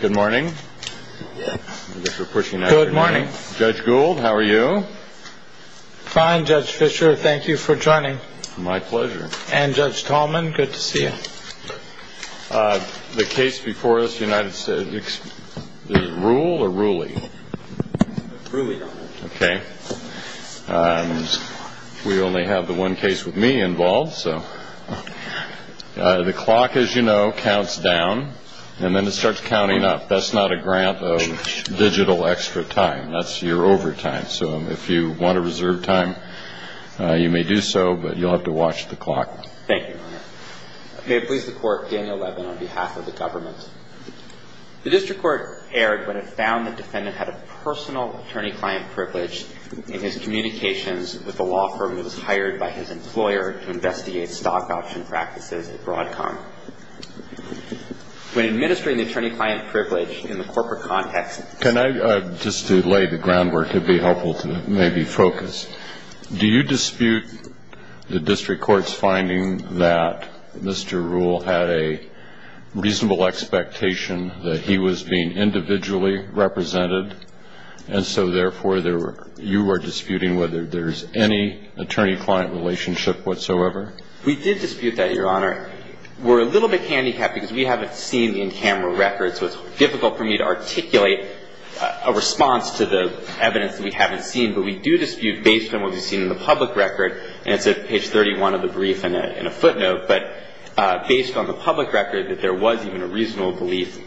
Good morning. Good morning. Judge Gould, how are you? Fine, Judge Fischer, thank you for joining. My pleasure. And Judge Tallman, good to see you. The case before us, United States, is Ruehl or Ruehle? Ruehle. Okay. We only have the one case with me involved, so. The clock, as you know, counts down, and then it starts counting up. That's not a grant of digital extra time. That's your overtime. So if you want to reserve time, you may do so, but you'll have to watch the clock. Thank you, Your Honor. May it please the Court, Daniel Levin on behalf of the government. The district court erred when it found the defendant had a personal attorney-client privilege in his communications with a law firm that was hired by his employer to investigate stock option practices at Broadcom. When administering the attorney-client privilege in the corporate context. Can I, just to lay the groundwork, it would be helpful to maybe focus. Do you dispute the district court's finding that Mr. Ruehl had a reasonable expectation that he was being individually represented, and so, therefore, you are disputing whether there's any attorney-client relationship whatsoever? We did dispute that, Your Honor. We're a little bit handicapped because we haven't seen the in-camera records, so it's difficult for me to articulate a response to the evidence that we haven't seen, but we do dispute based on what we've seen in the public record, and it's at page 31 of the brief in a footnote, but based on the public record that there was even a reasonable belief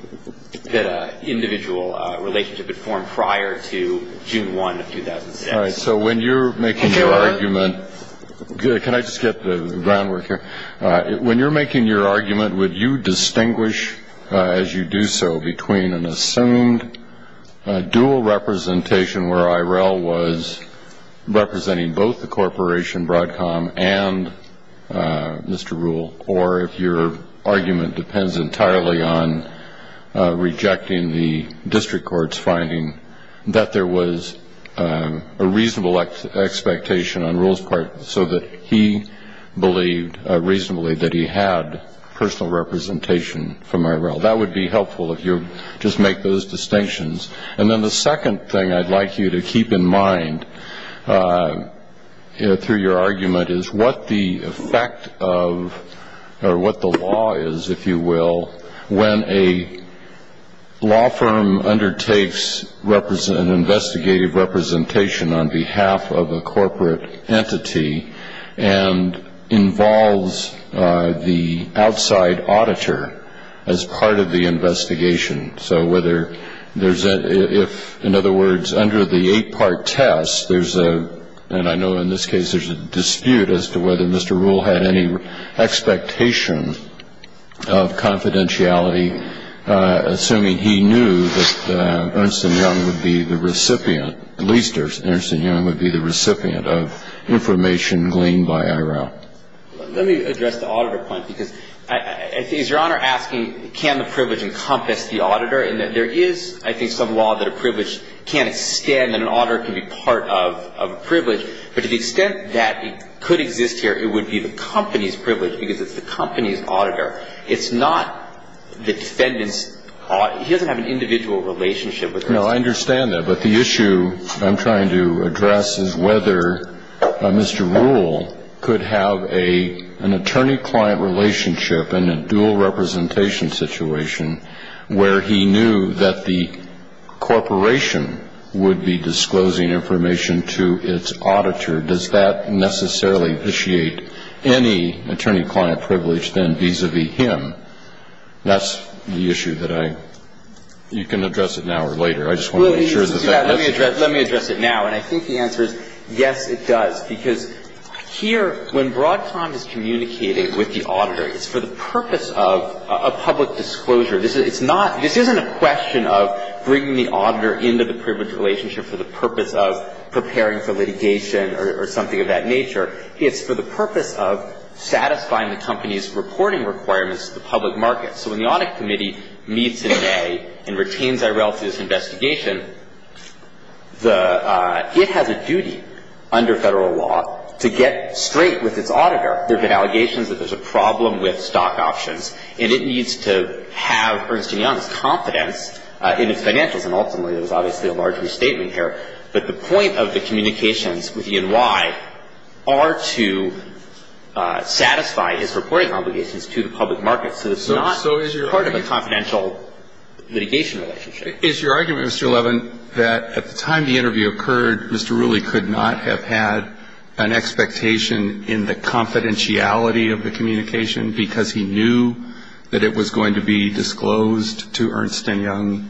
that an individual relationship had formed prior to June 1 of 2006. All right, so when you're making your argument. Can I just get the groundwork here? When you're making your argument, would you distinguish, as you do so, between an assumed dual representation where IRL was representing both the corporation, Broadcom, and Mr. Ruehl, or if your argument depends entirely on rejecting the district court's finding that there was a reasonable expectation on Ruehl's part so that he believed reasonably that he had personal representation from IRL? That would be helpful if you just make those distinctions. And then the second thing I'd like you to keep in mind through your argument is what the effect of or what the law is, if you will, when a law firm undertakes an investigative representation on behalf of a corporate entity and involves the outside auditor as part of the investigation. So whether there's a — if, in other words, under the eight-part test, there's a — and I know in this case there's a dispute as to whether Mr. Ruehl had any expectation of confidentiality, assuming he knew that Ernst & Young would be the recipient, at least Ernst & Young would be the recipient of information gleaned by IRL. Let me address the auditor point, because I think — is Your Honor asking can the privilege encompass the auditor? And there is, I think, some law that a privilege can't extend and an auditor can be part of a privilege, but to the extent that it could exist here, it would be the company's privilege because it's the company's auditor. It's not the defendant's — he doesn't have an individual relationship with Ernst & Young. No, I understand that, but the issue I'm trying to address is whether Mr. Ruehl could have an attorney-client relationship in a dual-representation situation where he knew that the corporation would be disclosing information to its auditor. Does that necessarily vitiate any attorney-client privilege then vis-a-vis him? That's the issue that I — you can address it now or later. I just want to make sure that that's clear. Let me address it now, and I think the answer is yes, it does, because here, when Broadcom is communicating with the auditor, it's for the purpose of public disclosure. This is — it's not — this isn't a question of bringing the auditor into the privilege relationship for the purpose of preparing for litigation or something of that nature. It's for the purpose of satisfying the company's reporting requirements to the public market. So when the Audit Committee meets in May and retains IRL through this investigation, the — it has a duty under Federal law to get straight with its auditor. There have been allegations that there's a problem with stock options, and it needs to have Ernst & Young's confidence in its financials. And ultimately, there was obviously a large restatement here. But the point of the communications with E&Y are to satisfy his reporting obligations to the public market. So it's not part of a confidential litigation relationship. Is your argument, Mr. Levin, that at the time the interview occurred, Mr. Rooley could not have had an expectation in the confidentiality of the communication because he knew that it was going to be disclosed to Ernst & Young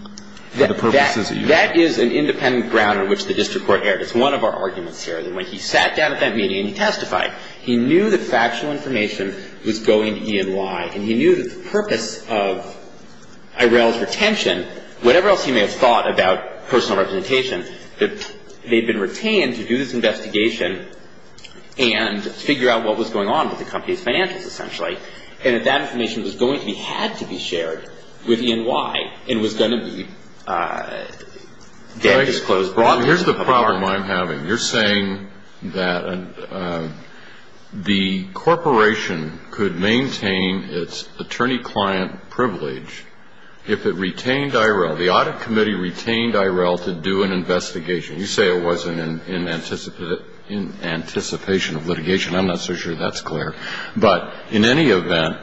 for the purposes of — That is an independent ground on which the district court erred. It's one of our arguments here, that when he sat down at that meeting and he testified, he knew that factual information was going to E&Y. And he knew that the purpose of IRL's retention, whatever else he may have thought about personal representation, that they'd been retained to do this investigation and figure out what was going on with the company's financials, essentially. And that that information was going to be — had to be shared with E&Y and was going to be — Here's the problem I'm having. You're saying that the corporation could maintain its attorney-client privilege if it retained IRL. The audit committee retained IRL to do an investigation. You say it wasn't in anticipation of litigation. I'm not so sure that's clear. But in any event,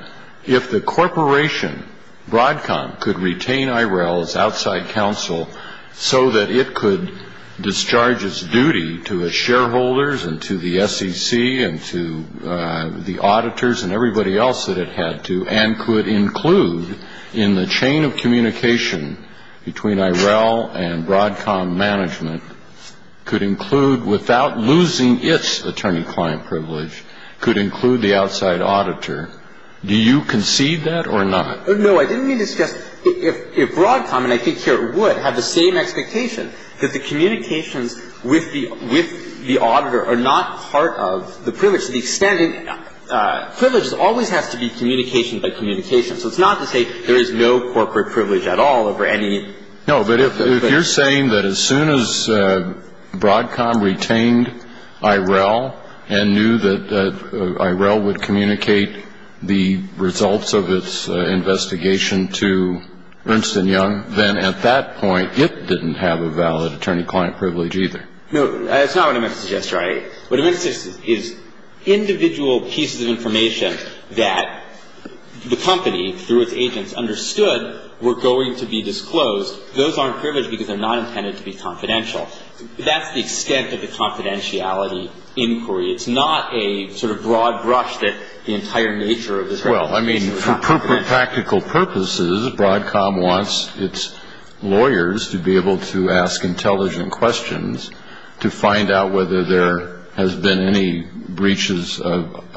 if the corporation, Broadcom, could retain IRL's outside counsel so that it could discharge its duty to its shareholders and to the SEC and to the auditors and everybody else that it had to and could include in the chain of communication between IRL and Broadcom management, could include, without losing its attorney-client privilege, could include the outside auditor, do you concede that or not? No. I didn't mean to suggest — if Broadcom, and I think here it would, had the same expectation, that the communications with the auditor are not part of the privilege, to the extent that privileges always have to be communication by communication. So it's not to say there is no corporate privilege at all over any — No, but if you're saying that as soon as Broadcom retained IRL and knew that IRL would communicate the results of its investigation to Ernst & Young, then at that point it didn't have a valid attorney-client privilege either. No, that's not what I meant to suggest, Your Honor. What I meant to suggest is individual pieces of information that the company, through its agents, understood were going to be disclosed. Those aren't privileged because they're not intended to be confidential. That's the extent of the confidentiality inquiry. It's not a sort of broad brush that the entire nature of this — Well, I mean, for practical purposes, Broadcom wants its lawyers to be able to ask intelligent questions to find out whether there has been any breaches of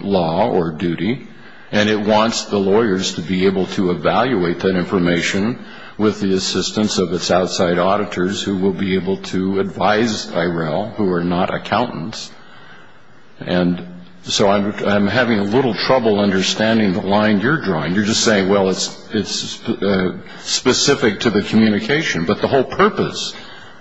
law or duty, and it wants the lawyers to be able to evaluate that information with the assistance of its outside auditors who will be able to advise IRL, who are not accountants. And so I'm having a little trouble understanding the line you're drawing. You're just saying, well, it's specific to the communication. But the whole purpose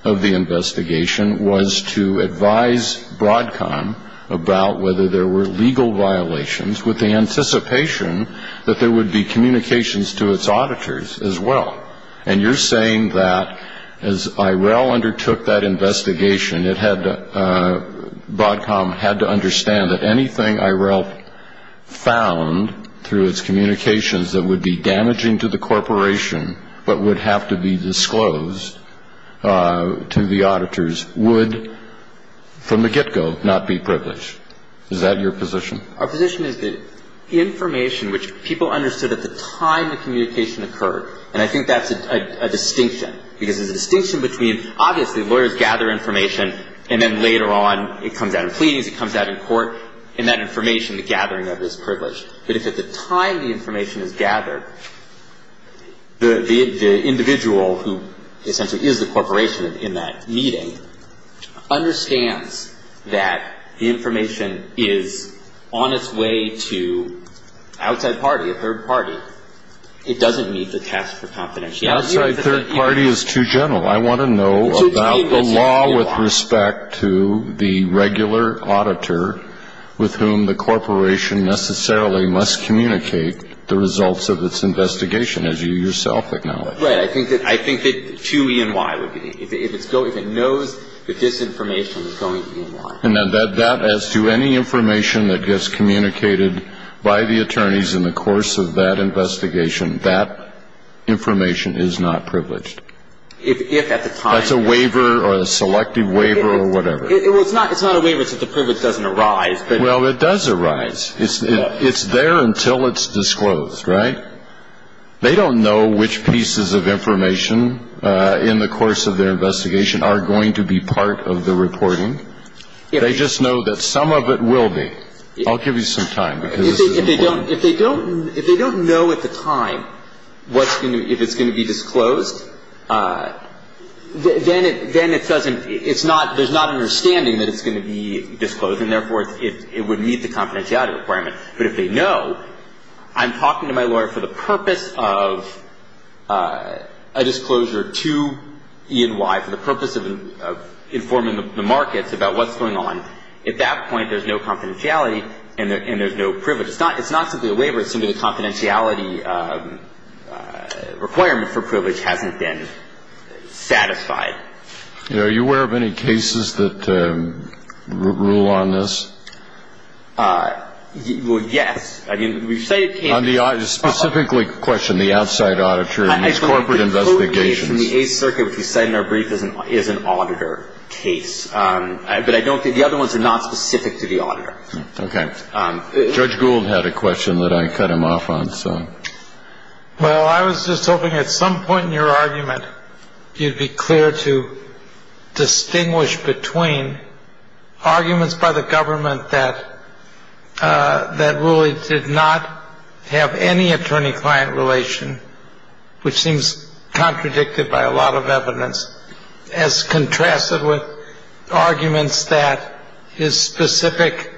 of the investigation was to advise Broadcom about whether there were legal violations with the anticipation that there would be communications to its auditors as well. And you're saying that as IRL undertook that investigation, Broadcom had to understand that anything IRL found through its communications that would be damaging to the corporation but would have to be disclosed to the auditors would, from the get-go, not be privileged. Is that your position? Our position is that information which people understood at the time the communication occurred, and I think that's a distinction, because there's a distinction between, obviously, lawyers gather information and then later on it comes out in pleadings, it comes out in court, and that information, the gathering of it is privileged. But if at the time the information is gathered, the individual who essentially is the corporation in that meeting understands that the information is on its way to outside party, a third party, it doesn't meet the task for confidentiality. Outside third party is too gentle. I want to know about the law with respect to the regular auditor with whom the corporation necessarily must communicate the results of its investigation, as you yourself acknowledge. Right. I think that to E&Y would be. If it knows that this information is going to E&Y. And that as to any information that gets communicated by the attorneys in the course of that investigation, that information is not privileged. If at the time... That's a waiver or a selective waiver or whatever. Well, it's not a waiver. It's if the privilege doesn't arise. Well, it does arise. It's there until it's disclosed, right? They don't know which pieces of information in the course of their investigation are going to be part of the reporting. They just know that some of it will be. I'll give you some time. If they don't know at the time what's going to be, if it's going to be disclosed, then it doesn't, it's not, there's not an understanding that it's going to be disclosed, and therefore it would meet the confidentiality requirement. But if they know, I'm talking to my lawyer for the purpose of a disclosure to E&Y, for the purpose of informing the markets about what's going on, at that point there's no confidentiality and there's no privilege. It's not simply a waiver. It's simply the confidentiality requirement for privilege hasn't been satisfied. Are you aware of any cases that rule on this? Well, yes. I mean, we say it can be. On the audit, specifically question the outside auditor in these corporate investigations. The court case in the Eighth Circuit, which we cite in our brief, is an auditor case. But I don't think, the other ones are not specific to the auditor. Okay. Judge Gould had a question that I cut him off on, so. Well, I was just hoping at some point in your argument, you'd be clear to distinguish between arguments by the government that really did not have any attorney-client relation, which seems contradicted by a lot of evidence, as contrasted with arguments that his specific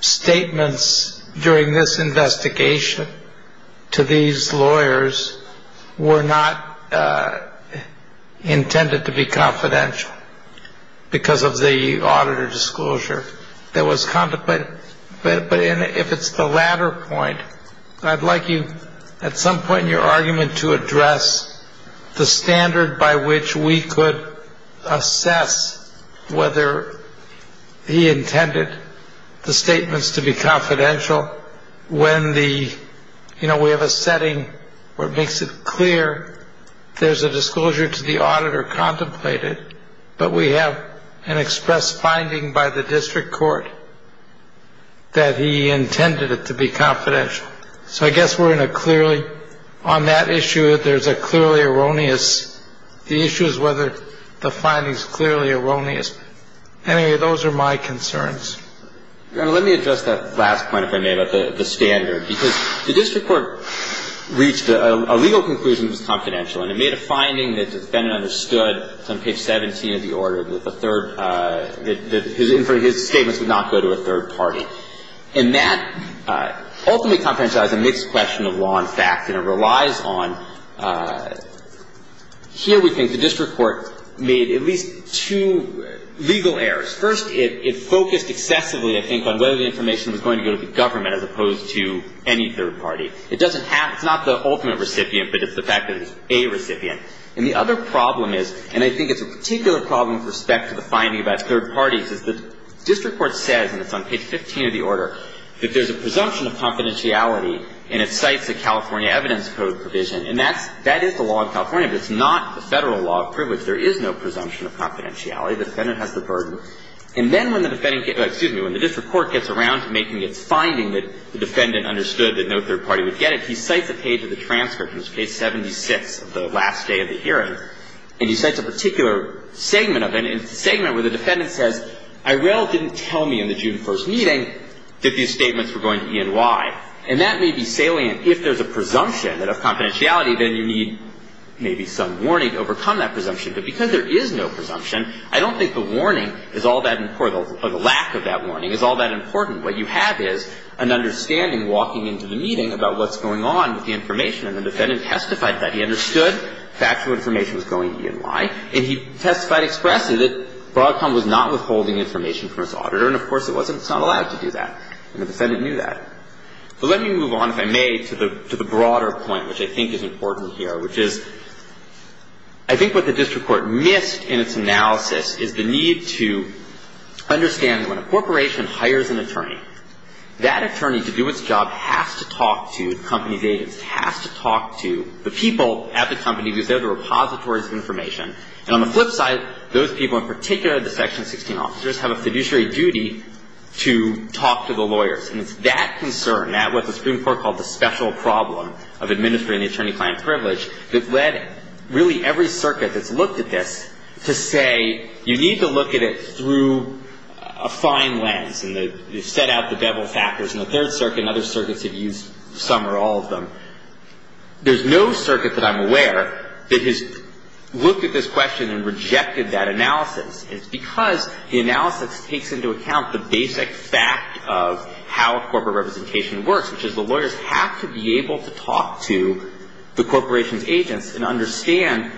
statements during this investigation to these lawyers were not intended to be confidential because of the auditor disclosure that was contemplated. But if it's the latter point, I'd like you, at some point in your argument, to address the standard by which we could assess whether he intended the statements to be confidential, when we have a setting where it makes it clear there's a disclosure to the auditor contemplated, but we have an express finding by the district court that he intended it to be confidential. So I guess we're in a clearly, on that issue, there's a clearly erroneous, the issue is whether the finding's clearly erroneous. Anyway, those are my concerns. Your Honor, let me address that last point, if I may, about the standard. Because the district court reached a legal conclusion it was confidential, and it made a finding that the defendant understood, it's on page 17 of the order, that the third, that his statements would not go to a third party. And that ultimately confidentialized a mixed question of law and fact, and it relies on, here we think the district court made at least two legal errors. First, it focused excessively, I think, on whether the information was going to go to the government as opposed to any third party. It doesn't have, it's not the ultimate recipient, but it's the fact that it's a recipient. And the other problem is, and I think it's a particular problem with respect to the finding about third parties, is the district court says, and it's on page 15 of the order, that there's a presumption of confidentiality, and it cites the California evidence code provision. And that's, that is the law of California, but it's not the Federal law of privilege. There is no presumption of confidentiality. The defendant has the burden. And then when the defendant, excuse me, when the district court gets around to making its finding that the defendant understood that no third party would get it, he cites a page of the transcript, in this case 76 of the last day of the hearing, and he cites a particular segment of it, and it's a segment where the defendant says, Irel didn't tell me in the June 1st meeting that these statements were going to E&Y. And that may be salient if there's a presumption of confidentiality, then you need maybe some warning to overcome that presumption. But because there is no presumption, I don't think the warning is all that important or the lack of that warning is all that important. What you have is an understanding walking into the meeting about what's going on with the information. And the defendant testified that he understood factual information was going to E&Y. And he testified expressly that Broadcom was not withholding information from its auditor. And of course, it wasn't. It's not allowed to do that. And the defendant knew that. But let me move on, if I may, to the broader point, which I think is important here, which is I think what the district court missed in its analysis is the need to understand when a corporation hires an attorney, that attorney, to do its job, has to talk to the company's agents, has to talk to the people at the company because they're the repositories of information. And on the flip side, those people, in particular the Section 16 officers, have a fiduciary duty to talk to the lawyers. And it's that concern, what the Supreme Court called the special problem of administering the attorney-client privilege, that led really every circuit that's looked at this to say you need to look at it through a fine lens. And they've set out the bevel factors. And the Third Circuit and other circuits have used some or all of them. There's no circuit that I'm aware that has looked at this question and rejected that analysis. It's because the analysis takes into account the basic fact of how corporate representation works, which is the lawyers have to be able to talk to the corporation's agents and understand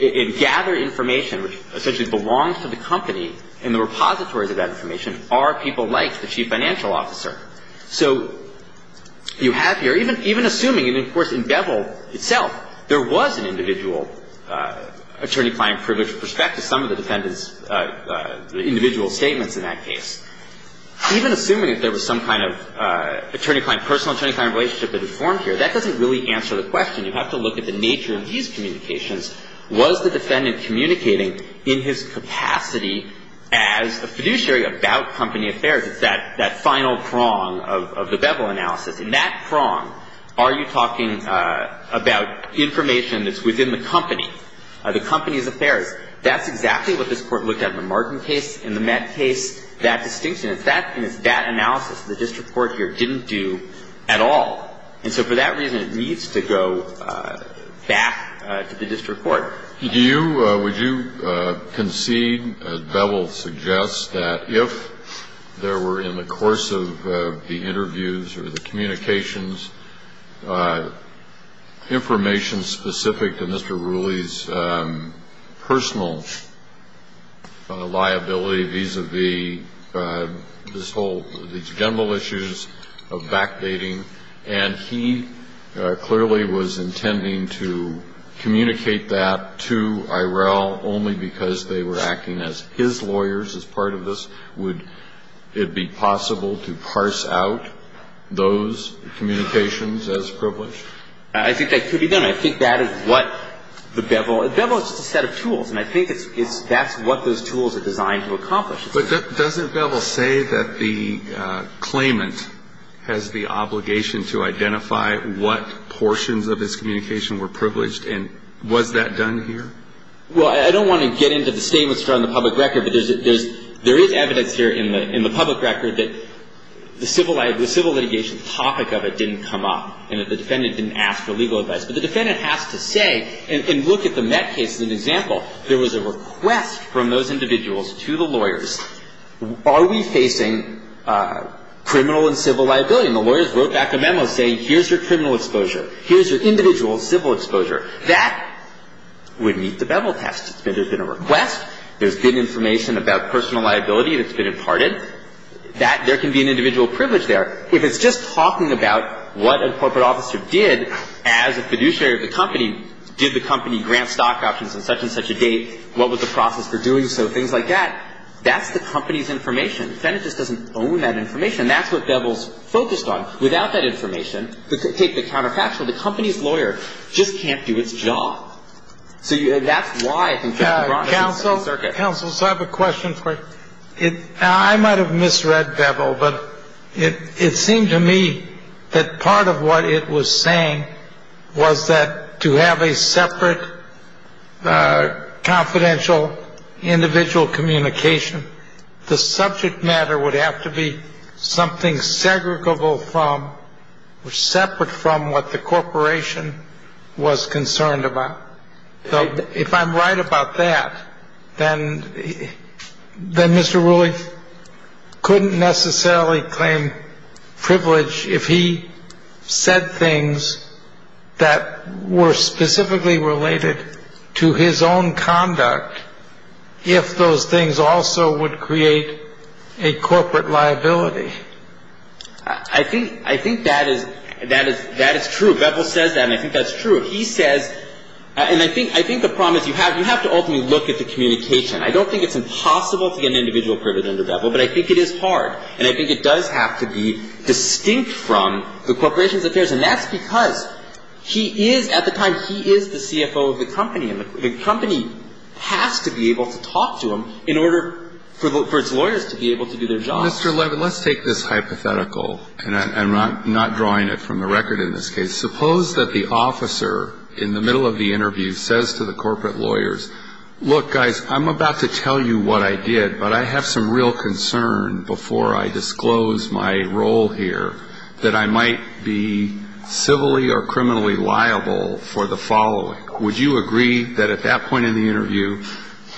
and gather information which essentially belongs to the company and the repositories of that information are people like the chief financial officer. So you have here, even assuming, and of course in bevel itself, there was an individual attorney-client privilege perspective, some of the defendant's individual statements in that case. Even assuming that there was some kind of attorney-client, personal attorney-client relationship that had formed here, that doesn't really answer the question. You have to look at the nature of these communications. Was the defendant communicating in his capacity as a fiduciary about company affairs? It's that final prong of the bevel analysis. In that prong, are you talking about information that's within the company, the company's affairs? That's exactly what this Court looked at in the Martin case, in the Met case, that distinction. It's that analysis the district court here didn't do at all. And so for that reason, it needs to go back to the district court. Would you concede, as Bevel suggests, that if there were in the course of the interviews or the communications information specific to Mr. Rooley's personal liability vis-à-vis this whole, these general issues of backdating, and he clearly was intending to communicate that to Eirell only because they were acting as his lawyers as part of this, would it be possible to parse out those communications as privileged? I think that could be done. I think that is what the bevel – bevel is just a set of tools, and I think it's – that's what those tools are designed to accomplish. But doesn't Bevel say that the claimant has the obligation to identify what portions of his communication were privileged, and was that done here? Well, I don't want to get into the statements from the public record, but there's – there is evidence here in the public record that the civil – the civil litigation topic of it didn't come up, and that the defendant didn't ask for legal advice. But the defendant has to say – and look at the Met case as an example. There was a request from those individuals to the lawyers, are we facing criminal and civil liability? And the lawyers wrote back a memo saying here's your criminal exposure, here's your individual civil exposure. That would meet the Bevel test. There's been a request, there's been information about personal liability that's been imparted. That – there can be an individual privilege there. If it's just talking about what a corporate officer did as a fiduciary of the company, did the company grant stock options on such and such a date, what was the process for doing so, things like that, that's the company's information. The defendant just doesn't own that information. And that's what Bevel's focused on. Without that information, take the counterfactual, the company's lawyer just can't do its job. So that's why I think Dr. Bronstein's circuit. Counsel, counsel, so I have a question for you. I might have misread Bevel, but it seemed to me that part of what it was saying was that to have a separate confidential individual communication, the subject matter would have to be something segregable from or separate from what the corporation was concerned about. If I'm right about that, then Mr. Rulli couldn't necessarily claim privilege if he said things that were specifically related to his own conduct if those things also would create a corporate liability. I think that is true. Bevel says that, and I think that's true. He says, and I think the problem is you have to ultimately look at the communication. I don't think it's impossible to get an individual privilege under Bevel, but I think it is hard. And I think it does have to be distinct from the corporation's affairs. And that's because he is, at the time, he is the CFO of the company. And the company has to be able to talk to him in order for its lawyers to be able to do their jobs. Mr. Levin, let's take this hypothetical, and I'm not drawing it from the record in this case. Suppose that the officer in the middle of the interview says to the corporate lawyers, look, guys, I'm about to tell you what I did, but I have some real concern before I disclose my role here that I might be civilly or criminally liable for the following. Would you agree that at that point in the interview,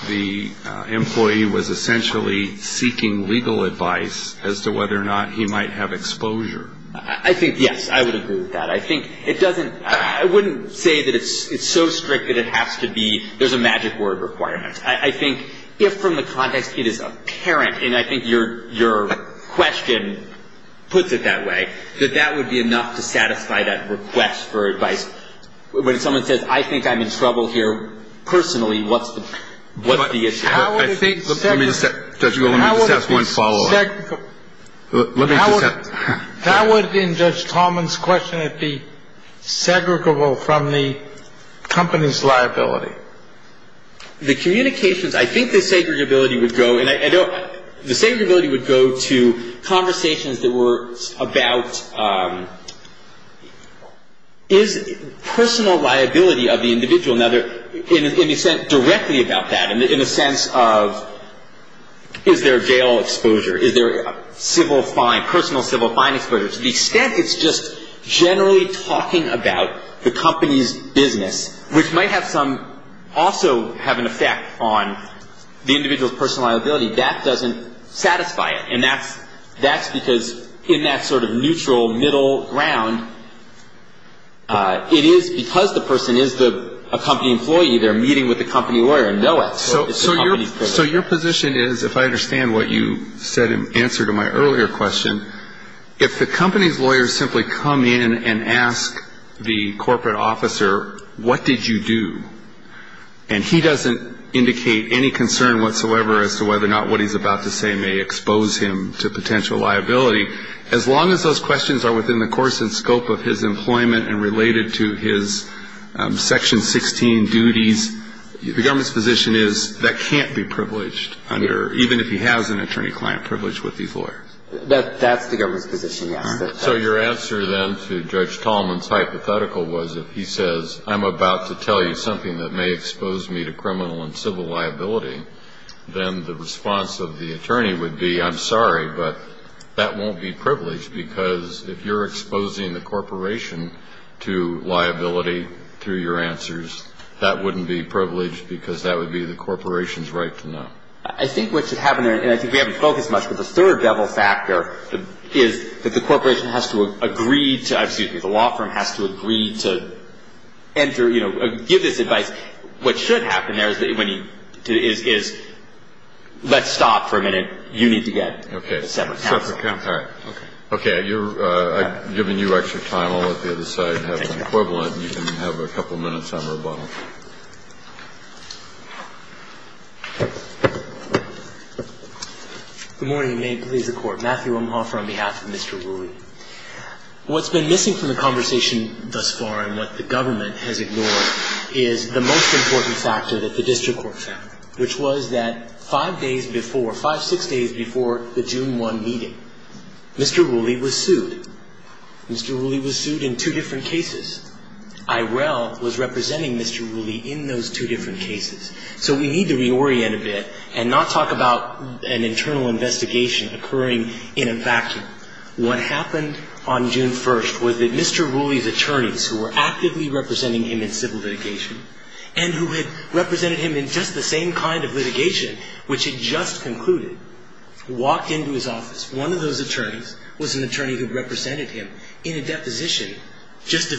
the employee was essentially seeking legal advice as to whether or not he might have exposure? I think, yes, I would agree with that. I think it doesn't, I wouldn't say that it's so strict that it has to be, there's a magic word requirement. I think if from the context it is apparent, and I think your question puts it that way, that that would be enough to satisfy that request for advice. When someone says, I think I'm in trouble here personally, what's the issue? How would it be segregable? Let me just ask one follow-up. How would, in Judge Talman's question, it be segregable from the company's liability? The communications, I think the segregability would go, and I don't, the segregability would go to conversations that were about is personal liability of the individual. Now, in a sense, directly about that, in a sense of is there jail exposure, is there civil fine, personal civil fine exposure. To the extent it's just generally talking about the company's business, which might have some, also have an effect on the individual's personal liability, that doesn't satisfy it. And that's because in that sort of neutral middle ground, it is because the person is the company employee, they're meeting with the company lawyer and know it. So it's the company's privilege. So your position is, if I understand what you said in answer to my earlier question, if the company's lawyer simply come in and ask the corporate officer, what did you do, and he doesn't indicate any concern whatsoever as to whether or not what he's about to say may expose him to potential liability, as long as those questions are within the course and scope of his employment and related to his Section 16 duties, the government's position is that can't be privileged under, even if he has an attorney-client privilege with these lawyers. That's the government's position, yes. So your answer then to Judge Talman's hypothetical was if he says, I'm about to tell you something that may expose me to criminal and civil liability, then the response of the attorney would be, I'm sorry, but that won't be privileged because if you're exposing the corporation to liability through your answers, that wouldn't be privileged because that would be the corporation's right to know. I think what should happen there, and I think we haven't focused much, but the third devil factor is that the corporation has to agree to, excuse me, the law firm has to agree to, you know, give this advice. What should happen there is when he is, let's stop for a minute. You need to get a separate counsel. Okay. A separate counsel. All right. Okay. I've given you extra time. I'll let the other side have the equivalent. You can have a couple minutes on rebuttal. Good morning, and may it please the Court. Matthew Umhofer on behalf of Mr. Wooley. What's been missing from the conversation thus far and what the government has ignored is the most important factor that the district court found, which was that five days before, five, six days before the June 1 meeting, Mr. Wooley was sued. Mr. Wooley was sued in two different cases. IRL was representing Mr. Wooley in those two different cases, so we need to reorient a bit and not talk about an internal investigation occurring in a vacuum. What happened on June 1st was that Mr. Wooley's attorneys, who were actively representing him in civil litigation and who had represented him in just the same kind of litigation, which had just concluded, walked into his office. One of those attorneys was an attorney who represented him in a deposition just a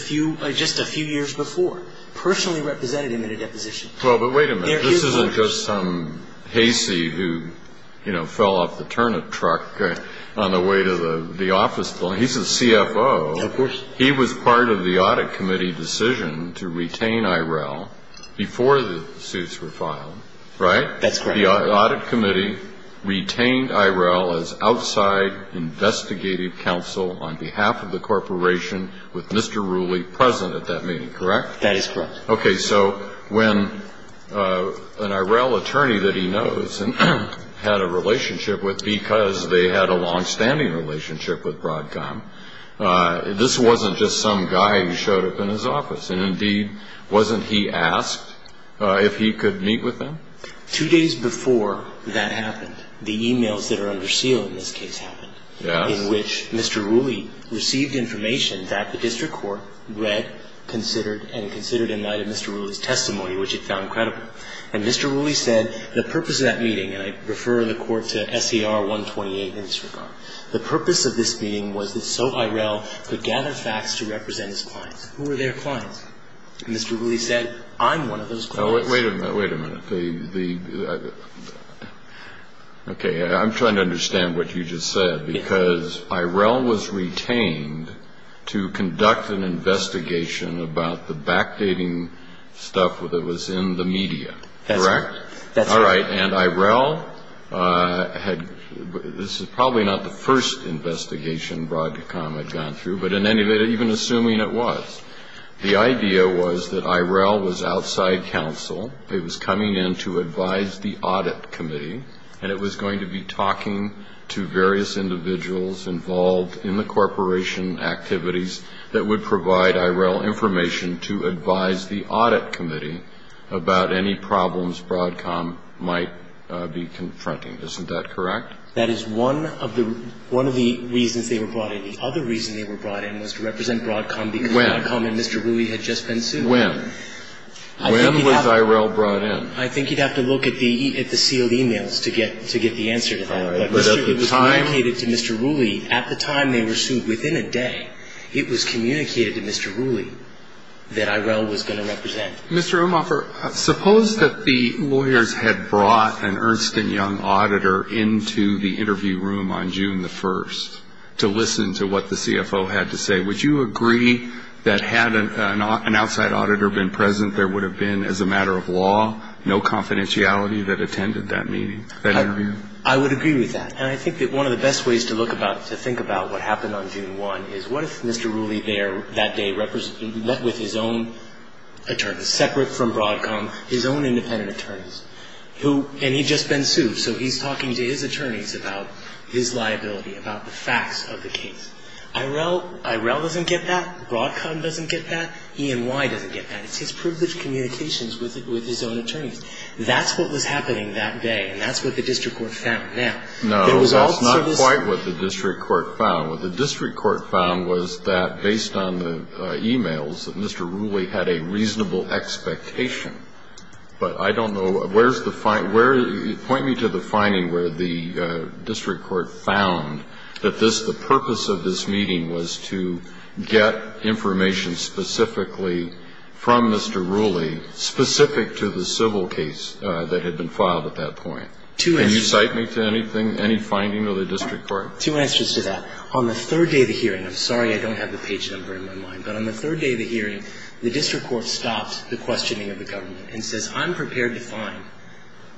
few years before, personally represented him in a deposition. Well, but wait a minute. This isn't just some hazy who, you know, fell off the turnip truck on the way to the office building. He's a CFO. Of course. He was part of the audit committee decision to retain IRL before the suits were filed, right? That's correct. The audit committee retained IRL as outside investigative counsel on behalf of the corporation with Mr. Wooley present at that meeting, correct? That is correct. Okay. So when an IRL attorney that he knows and had a relationship with because they had a longstanding relationship with Broadcom, this wasn't just some guy who showed up in his office. And indeed, wasn't he asked if he could meet with them? Two days before that happened, the e-mails that are under seal in this case happened. Yes. In which Mr. Wooley received information that the district court read, considered, and considered in light of Mr. Wooley's testimony, which it found credible. And Mr. Wooley said the purpose of that meeting, and I refer the court to SCR 128 in this regard, the purpose of this meeting was that so IRL could gather facts to represent his clients. Who were their clients? And Mr. Wooley said, I'm one of those clients. Wait a minute. Wait a minute. Okay. I'm trying to understand what you just said because IRL was retained to conduct an investigation, the back dating stuff that was in the media. That's correct. And IRL, this is probably not the first investigation Broadcom had gone through, but in any event even assuming it was, the idea was that IRL was outside counsel. It was coming in to advise the audit committee and it was going to be talking to various individuals involved in the corporation activities that would provide IRL information to advise the audit committee about any problems Broadcom might be confronting. Isn't that correct? That is one of the reasons they were brought in. The other reason they were brought in was to represent Broadcom. When? Broadcom and Mr. Rooley had just been sued. When? When was IRL brought in? I think you'd have to look at the sealed e-mails to get the answer to that. All right. But at the time? It was communicated to Mr. Rooley. At the time they were sued, within a day, it was communicated to Mr. Rooley. That IRL was going to represent. Mr. Umhofer, suppose that the lawyers had brought an Ernst & Young auditor into the interview room on June 1st to listen to what the CFO had to say. Would you agree that had an outside auditor been present, there would have been, as a matter of law, no confidentiality that attended that meeting, that interview? I would agree with that. And I think that one of the best ways to look about, to think about what happened on June 1 is what if Mr. Rooley there that day met with his own attorneys, separate from Broadcom, his own independent attorneys, and he'd just been sued, so he's talking to his attorneys about his liability, about the facts of the case. IRL doesn't get that. Broadcom doesn't get that. E&Y doesn't get that. It's his privileged communications with his own attorneys. That's what was happening that day, and that's what the district court found. No, that's not quite what the district court found. What the district court found was that, based on the e-mails, that Mr. Rooley had a reasonable expectation. But I don't know where's the find ñ point me to the finding where the district court found that this, the purpose of this meeting was to get information specifically from Mr. Rooley, specific to the civil case that had been filed at that point. Can you cite me to anything, any finding of the district court? Two answers to that. On the third day of the hearing, I'm sorry I don't have the page number in my mind, but on the third day of the hearing, the district court stopped the questioning of the government and says, I'm prepared to find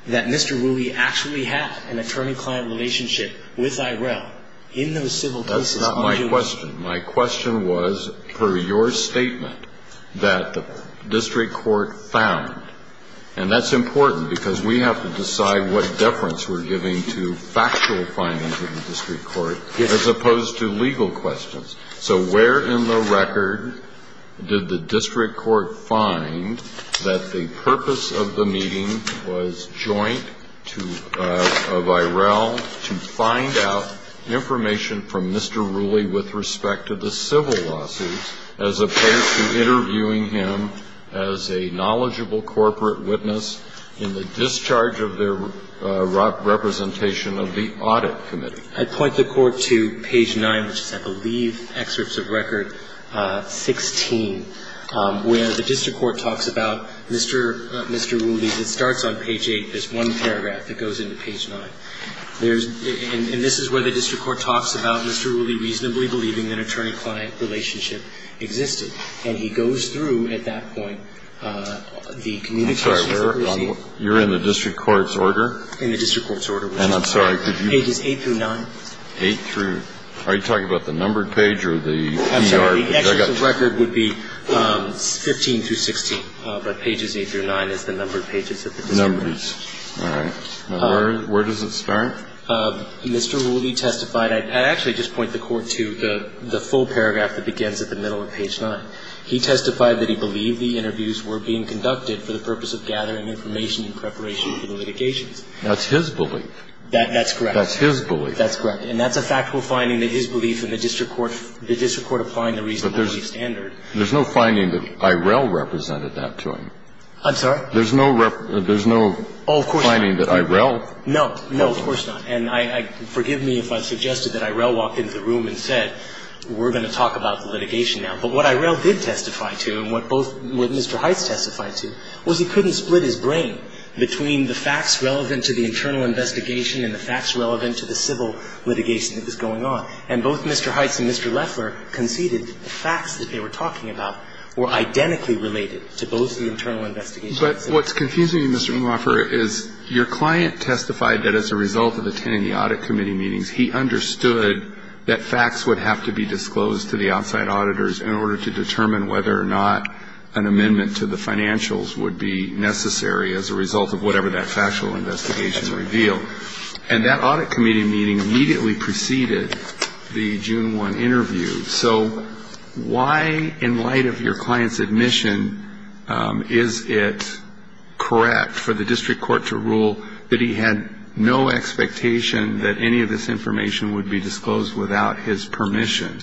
that Mr. Rooley actually had an attorney-client relationship with IRL in those civil cases. That's not my question. My question was, per your statement, that the district court found, and that's important because we have to decide what deference we're giving to factual findings of the district court as opposed to legal questions. So where in the record did the district court find that the purpose of the meeting was joint to IRL to find out information from Mr. Rooley with respect to the civil case? The district court found that the purpose of the meeting was joint to IRL to find out information from Mr. Rooley with respect to the civil case. So where in the record did the district court find that the purpose of the meeting was joint to IRL to find out information from Mr. Rooley with respect to the civil case? Mr. Rooley did not find evidence that there was a liquidation involved. Receiving communications while there was an attorney-to-court relationship existed. And he goes through at that point the communication strips and the issues where they were facing. You're in the district court's order. In the district court's order. And I'm sorry, could you ---- Ages 8 through 9. Are you talking about the numbered page or the VRB? The numbered page is the one that begins at the middle of page 9. He testified that he believed the interviews were being conducted for the purpose of gathering information in preparation for the litigations. That's his belief. That's correct. That's his belief. That's correct. And that's a factual finding, that his belief in the district court ---- the district court applying the reasonable belief standard. But there's no finding that Irell represented that to him. I'm sorry? There's no ---- Well, of course not. There's no finding that Irell ---- No. No, of course not. And I ---- forgive me if I suggested that Irell walked into the room and said, we're going to talk about the litigation now. But what Irell did testify to and what both ---- what Mr. Heitz testified to was he couldn't split his brain between the facts relevant to the internal investigation and the facts relevant to the civil litigation that was going on. And both Mr. Heitz and Mr. Loeffler conceded the facts that they were talking about were identically related to both the internal investigations. But what's confusing you, Mr. Inhofer, is your client testified that as a result of attending the audit committee meetings, he understood that facts would have to be disclosed to the outside auditors in order to determine whether or not an amendment to the financials would be necessary as a result of whatever that factual investigation revealed. And that audit committee meeting immediately preceded the June 1 interview. So why, in light of your client's admission, is it correct for the district court to rule that he had no expectation that any of this information would be disclosed without his permission,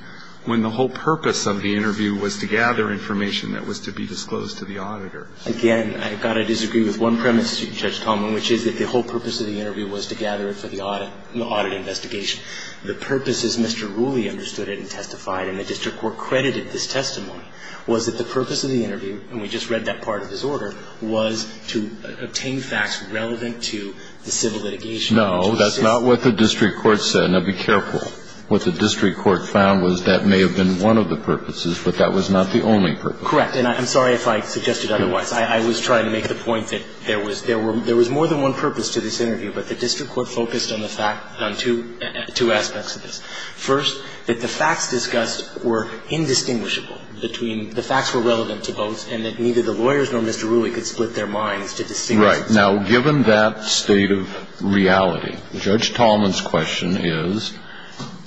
when the whole purpose of the interview was to gather information that was to be disclosed to the auditor? Again, I've got to disagree with one premise, Judge Coleman, which is that the whole purpose of the interview was to gather it for the audit investigation. The purpose, as Mr. Rooley understood it and testified, and the district court credited this testimony, was that the purpose of the interview, and we just read that part of his order, was to obtain facts relevant to the civil litigation. No, that's not what the district court said. Now, be careful. What the district court found was that may have been one of the purposes, but that was not the only purpose. Correct. And I'm sorry if I suggested otherwise. I was trying to make the point that there was more than one purpose to this interview, but the district court focused on two aspects of this. First, that the facts discussed were indistinguishable between the facts were relevant to both, and that neither the lawyers nor Mr. Rooley could split their minds to distinguish Right. Now, given that state of reality, Judge Tolman's question is,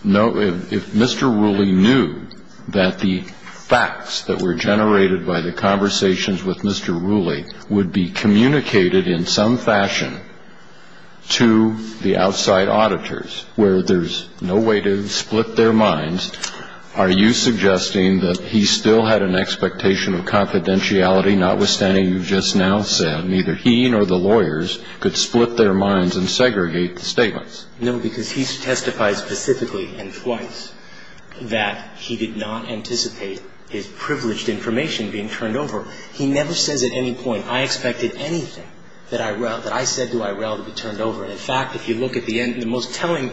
if Mr. Rooley knew that the facts that were generated by the conversations with Mr. Rooley would be communicated in some fashion to the outside auditors, where there's no way to split their minds, are you suggesting that he still had an expectation of confidentiality, notwithstanding you just now said, neither he nor the lawyers could split their minds and segregate the statements? No, because he testified specifically and twice that he did not anticipate his privileged information being turned over. He never says at any point, I expected anything that I said to Irell to be turned over. In fact, if you look at the end, the most telling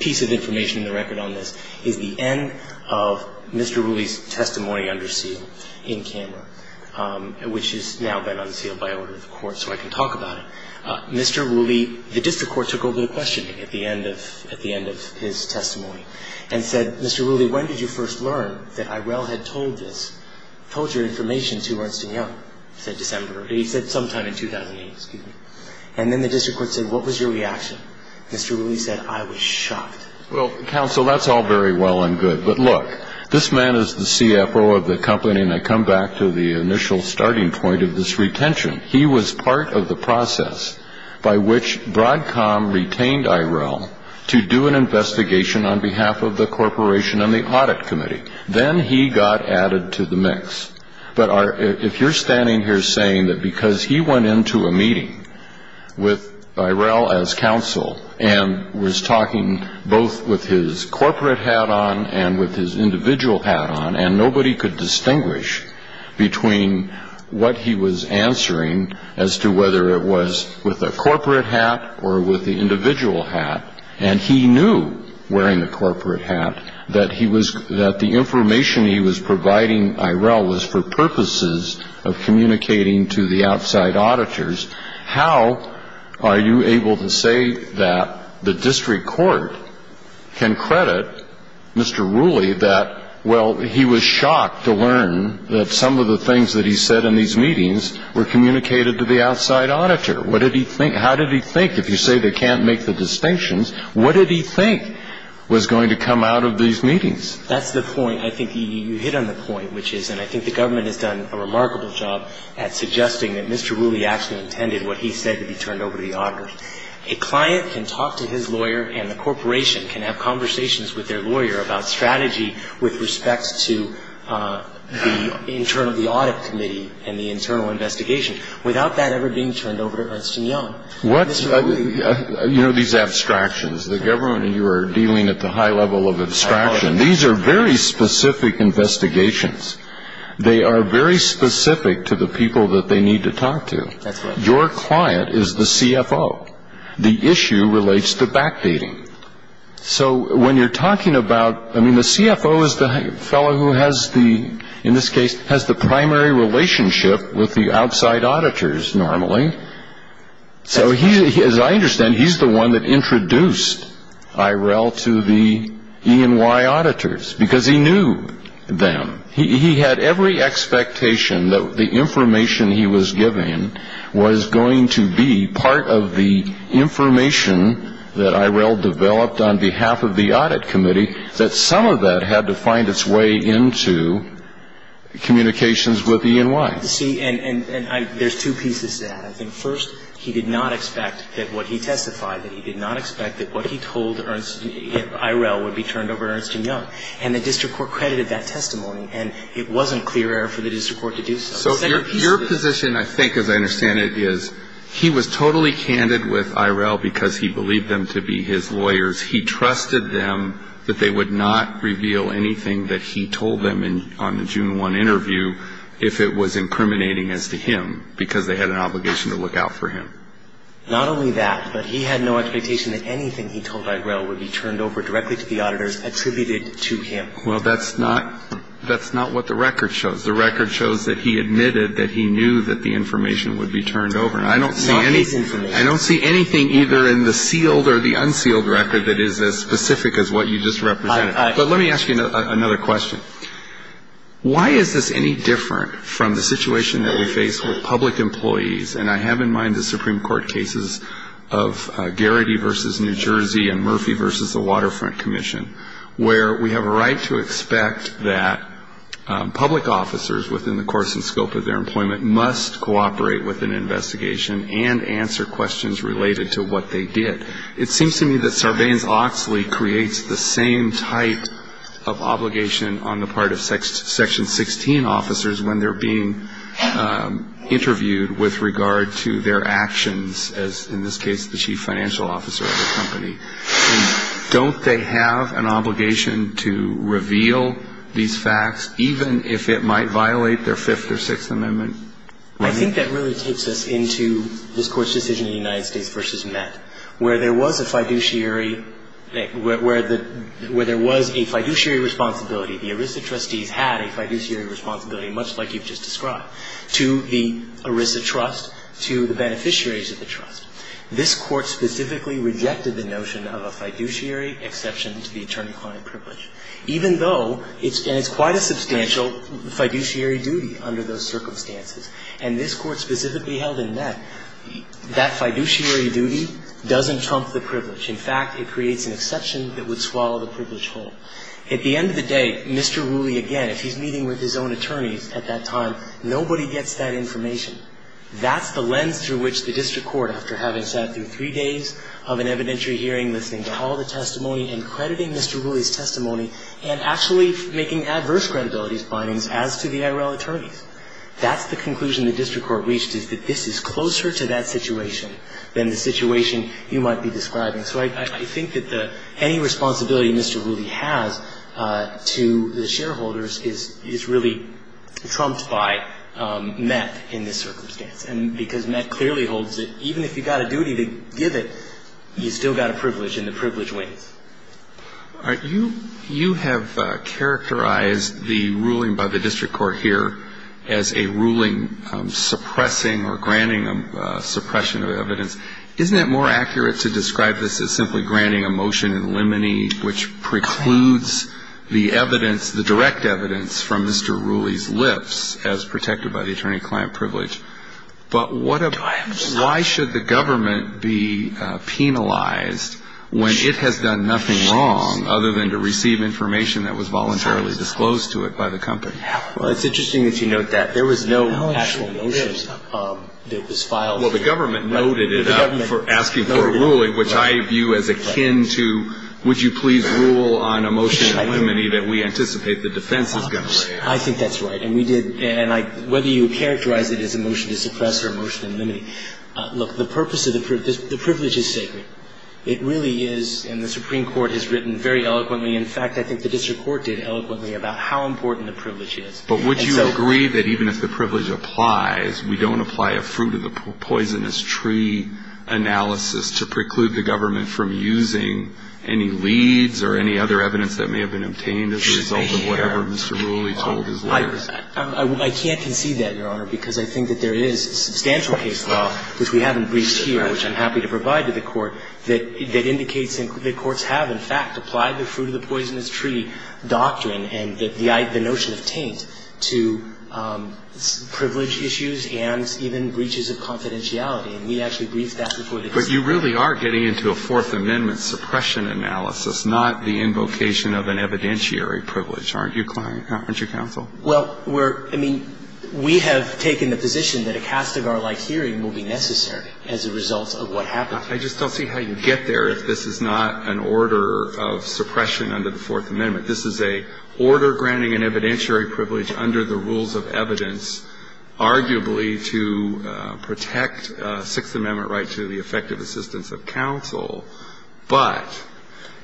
piece of information in the record on this is the end of Mr. Rooley's testimony under seal in camera, which has now been unsealed by order of the court so I can talk about it. Mr. Rooley, the district court took over the questioning at the end of his testimony and said, Mr. Rooley, when did you first learn that Irell had told you this? I have no information to Ernst & Young, said December. He said sometime in 2008, excuse me. And then the district court said, what was your reaction? Mr. Rooley said, I was shocked. Well, counsel, that's all very well and good, but look, this man is the CFO of the company and I come back to the initial starting point of this retention. He was part of the process by which Broadcom retained Irell to do an investigation on behalf of the corporation and the audit committee. Then he got added to the mix. But if you're standing here saying that because he went into a meeting with Irell as counsel and was talking both with his corporate hat on and with his individual hat on and nobody could distinguish between what he was answering as to whether it was with the corporate hat or with the individual hat, and he knew, wearing the corporate hat, that the information he was providing Irell was for purposes of communicating to the outside auditors, how are you able to say that the district court can credit Mr. Rooley that, well, he was shocked to learn that some of the things that he said in these meetings were communicated to the outside auditor? What did he think? How did he think? If you say they can't make the distinctions, what did he think was going to come out of these meetings? That's the point. I think you hit on the point, which is, and I think the government has done a remarkable job at suggesting that Mr. Rooley actually intended what he said to be turned over to the auditors. A client can talk to his lawyer and the corporation can have conversations with their lawyer about strategy with respect to the internal audit committee and the internal investigation without that ever being turned over to Ernst & Young. You know these abstractions, the government and you are dealing at the high level of abstraction. These are very specific investigations. They are very specific to the people that they need to talk to. That's right. Your client is the CFO. The issue relates to backdating. So when you're talking about, I mean, the CFO is the fellow who has the, in this case, has the primary relationship with the outside auditors normally. So as I understand, he's the one that introduced IRL to the E&Y auditors because he knew them. He had every expectation that the information he was giving was going to be part of the information that IRL developed on behalf of the audit committee, that some of that had to find its way into communications with the E&Y. See, and there's two pieces to that. I think first, he did not expect that what he testified, that he did not expect that what he told IRL would be turned over to Ernst & Young. And the district court credited that testimony. And it wasn't clear for the district court to do so. So your position, I think, as I understand it, is he was totally candid with IRL because he believed them to be his lawyers. He trusted them that they would not reveal anything that he told them on the June 1 interview if it was incriminating as to him because they had an obligation to look out for him. Not only that, but he had no expectation that anything he told IRL would be turned over directly to the auditors attributed to him. Well, that's not what the record shows. The record shows that he admitted that he knew that the information would be turned over. I don't see anything either in the sealed or the unsealed record that is as specific as what you just represented. But let me ask you another question. Why is this any different from the situation that we face with public employees? And I have in mind the Supreme Court cases of Garrity v. New Jersey and Murphy v. the Waterfront Commission, where we have a right to expect that public officers within the course and scope of their employment must cooperate with an investigation and answer questions related to what they did. It seems to me that Sarbanes-Oxley creates the same type of obligation on the part of Section 16 officers when they're being interviewed with regard to their actions, as in this case the chief financial officer of the company. Don't they have an obligation to reveal these facts, even if it might violate their Fifth or Sixth Amendment? I think that really takes us into this Court's decision in the United States v. Met, where there was a fiduciary responsibility. The ERISA trustees had a fiduciary responsibility, much like you've just described, to the ERISA trust, to the beneficiaries of the trust. This Court specifically rejected the notion of a fiduciary exception to the attorney-client privilege, even though it's quite a substantial fiduciary duty under those circumstances. And this Court specifically held in Met that fiduciary duty doesn't trump the privilege. In fact, it creates an exception that would swallow the privilege whole. At the end of the day, Mr. Wooley, again, if he's meeting with his own attorneys at that time, nobody gets that information. That's the lens through which the district court, after having sat through three days of an evidentiary hearing, listening to all the testimony and crediting Mr. Wooley's testimony and actually making adverse credibility findings as to the IRL attorneys. That's the conclusion the district court reached, is that this is closer to that situation than the situation you might be describing. So I think that any responsibility Mr. Wooley has to the shareholders is really trumped by Met in this circumstance. And because Met clearly holds that even if you've got a duty to give it, you've still got a privilege, and the privilege wins. All right. You have characterized the ruling by the district court here as a ruling suppressing or granting a suppression of evidence. Isn't it more accurate to describe this as simply granting a motion in limine, which precludes the evidence, the direct evidence, from Mr. Wooley's lips as protected by the attorney-client privilege? But what about why should the government be penalized when it has done nothing wrong other than to receive information that was voluntarily disclosed to it by the company? Well, it's interesting that you note that. There was no actual motion that was filed. Well, the government noted it up for asking for a ruling, which I view as akin to would you please rule on a motion in limine that we anticipate the defense is going to lay out. I think that's right. And we did. And whether you characterize it as a motion to suppress or a motion in limine, look, the purpose of the privilege is sacred. It really is, and the Supreme Court has written very eloquently. In fact, I think the district court did eloquently about how important the privilege is. But would you agree that even if the privilege applies, we don't apply a fruit of the poisonous tree analysis to preclude the government from using any leads or any other evidence that may have been obtained as a result of whatever Mr. Ruley told his lawyers? I can't concede that, Your Honor, because I think that there is substantial case law, which we haven't briefed here, which I'm happy to provide to the Court, that indicates that courts have, in fact, applied the fruit of the poisonous tree doctrine and the notion of taint to privilege issues and even breaches of confidentiality. And we actually briefed that before the case. But you really are getting into a Fourth Amendment suppression analysis, not the invocation of an evidentiary privilege, aren't you, client? Aren't you, counsel? Well, we're – I mean, we have taken the position that a Castigar-like hearing will be necessary as a result of what happened. I just don't see how you get there if this is not an order of suppression under the Fourth Amendment. This is an order granting an evidentiary privilege under the rules of evidence, arguably to protect Sixth Amendment right to the effective assistance of counsel, but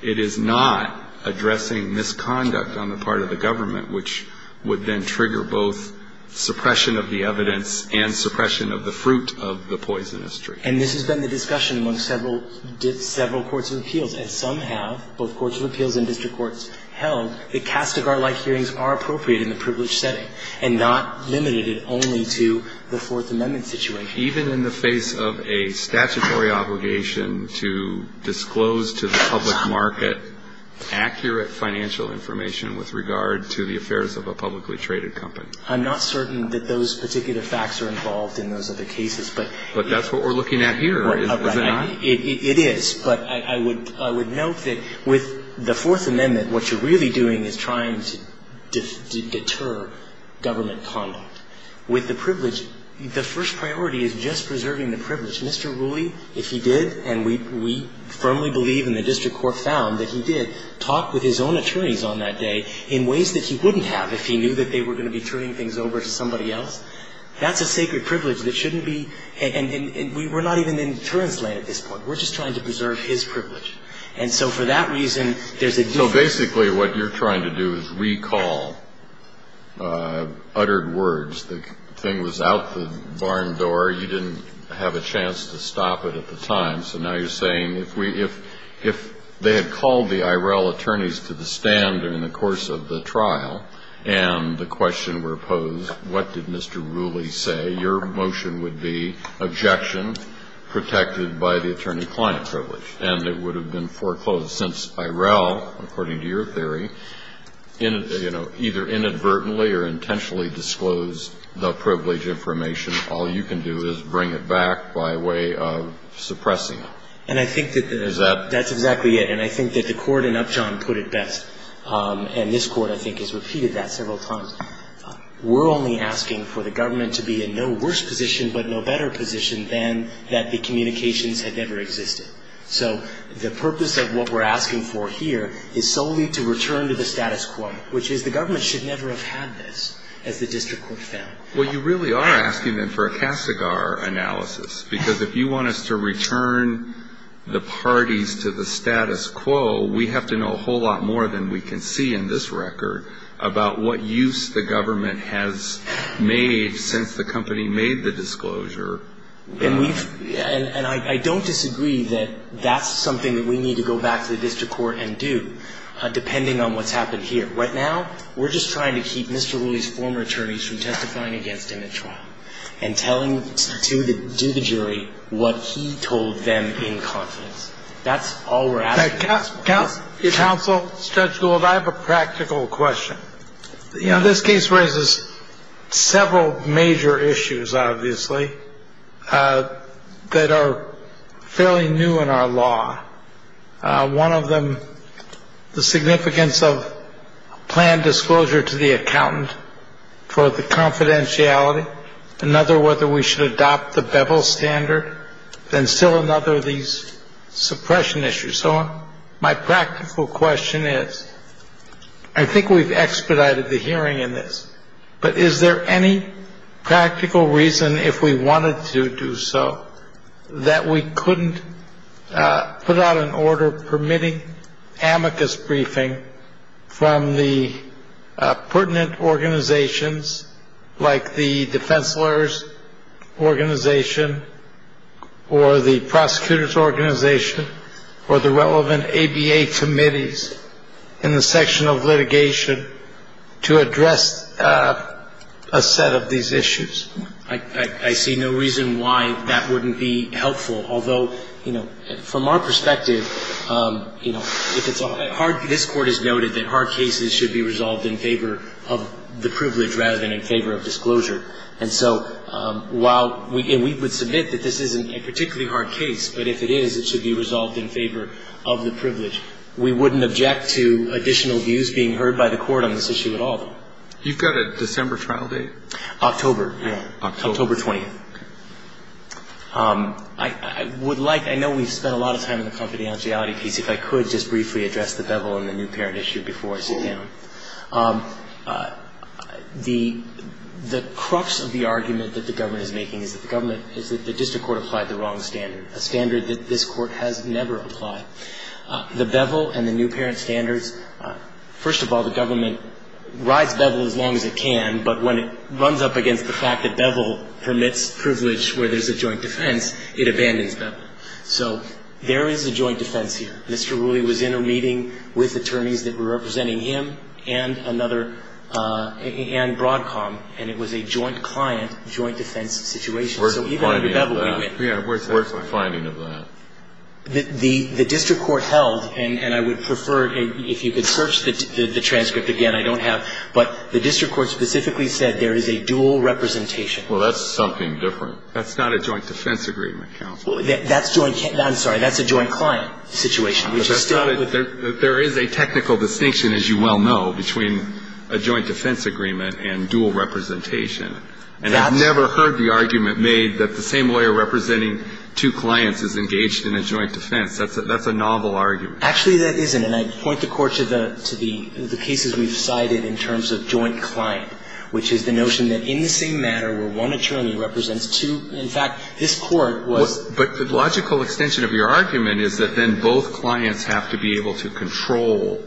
it is not addressing misconduct on the part of the government, which would then trigger both suppression of the evidence and suppression of the fruit of the poisonous tree. And this has been the discussion among several courts of appeals, and some have, both courts of appeals and district courts, held that Castigar-like hearings are appropriate in the privileged setting and not limited only to the Fourth Amendment situation. Even in the face of a statutory obligation to disclose to the public market accurate financial information with regard to the affairs of a publicly traded company? I'm not certain that those particular facts are involved in those other cases, but – But that's what we're looking at here. Right. It is. But I would note that with the Fourth Amendment, what you're really doing is trying to deter government conduct. With the privilege, the first priority is just preserving the privilege. Mr. Rooley, if he did, and we firmly believe and the district court found that he did, talked with his own attorneys on that day in ways that he wouldn't have if he knew that they were going to be turning things over to somebody else. That's a sacred privilege that shouldn't be – and we're not even in deterrence lane at this point. We're just trying to preserve his privilege. And so for that reason, there's a difference. Basically, what you're trying to do is recall uttered words. The thing was out the barn door. You didn't have a chance to stop it at the time. So now you're saying if we – if they had called the IRL attorneys to the stand during the course of the trial and the question were posed, what did Mr. Rooley say, your motion would be objection, protected by the attorney-client privilege, and it would have been foreclosed. So since IRL, according to your theory, you know, either inadvertently or intentionally disclosed the privilege information, all you can do is bring it back by way of suppressing it. Is that – And I think that's exactly it. And I think that the Court in Upjohn put it best. And this Court, I think, has repeated that several times. We're only asking for the government to be in no worse position but no better position than that the communications had never existed. So the purpose of what we're asking for here is solely to return to the status quo, which is the government should never have had this, as the district court found. Well, you really are asking then for a Casagar analysis, because if you want us to return the parties to the status quo, we have to know a whole lot more than we can see in this record about what use the government has made since the company made the disclosure. And we've – and I don't disagree that that's something that we need to go back to the district court and do, depending on what's happened here. Right now, we're just trying to keep Mr. Wooley's former attorneys from testifying against him at trial and telling – to the jury what he told them in confidence. That's all we're asking. Counsel, Judge Gould, I have a practical question. You know, this case raises several major issues, obviously, that are fairly new in our law. One of them, the significance of planned disclosure to the accountant for the confidentiality. Another, whether we should adopt the Bevel standard. And still another, these suppression issues. So my practical question is, I think we've expedited the hearing in this, but is there any practical reason, if we wanted to do so, that we couldn't put out an order permitting amicus briefing from the pertinent organizations, like the defense lawyers organization or the prosecutors organization or the relevant ABA committees in the section of litigation to address a set of these issues? I see no reason why that wouldn't be helpful. Although, you know, from our perspective, you know, if it's a hard – if it's a hard case, it should be resolved in favor of disclosure. And so while – and we would submit that this isn't a particularly hard case, but if it is, it should be resolved in favor of the privilege. We wouldn't object to additional views being heard by the court on this issue at all. You've got a December trial date? October. October 20th. I would like – I know we've spent a lot of time in the confidentiality piece. If I could just briefly address the bevel and the new parent issue before I sit down. The crux of the argument that the government is making is that the government – is that the district court applied the wrong standard, a standard that this court has never applied. The bevel and the new parent standards – first of all, the government rides bevel as long as it can, but when it runs up against the fact that bevel permits privilege where there's a joint defense, it abandons bevel. So there is a joint defense here. Mr. Wooley was in a meeting with attorneys that were representing him and another – and Broadcom, and it was a joint client, joint defense situation. So even with bevel, we went – Yeah, where's the finding of that? The district court held, and I would prefer – if you could search the transcript again, I don't have – But the district court specifically said there is a dual representation. Well, that's something different. That's not a joint defense agreement, counsel. That's joint – I'm sorry. That's a joint client situation, which is still – There is a technical distinction, as you well know, between a joint defense agreement and dual representation. And I've never heard the argument made that the same lawyer representing two clients is engaged in a joint defense. That's a novel argument. Actually, that isn't. And I point the Court to the cases we've cited in terms of joint client, which is the notion that in the same matter where one attorney represents two – in fact, this Court was – But the logical extension of your argument is that then both clients have to be able to control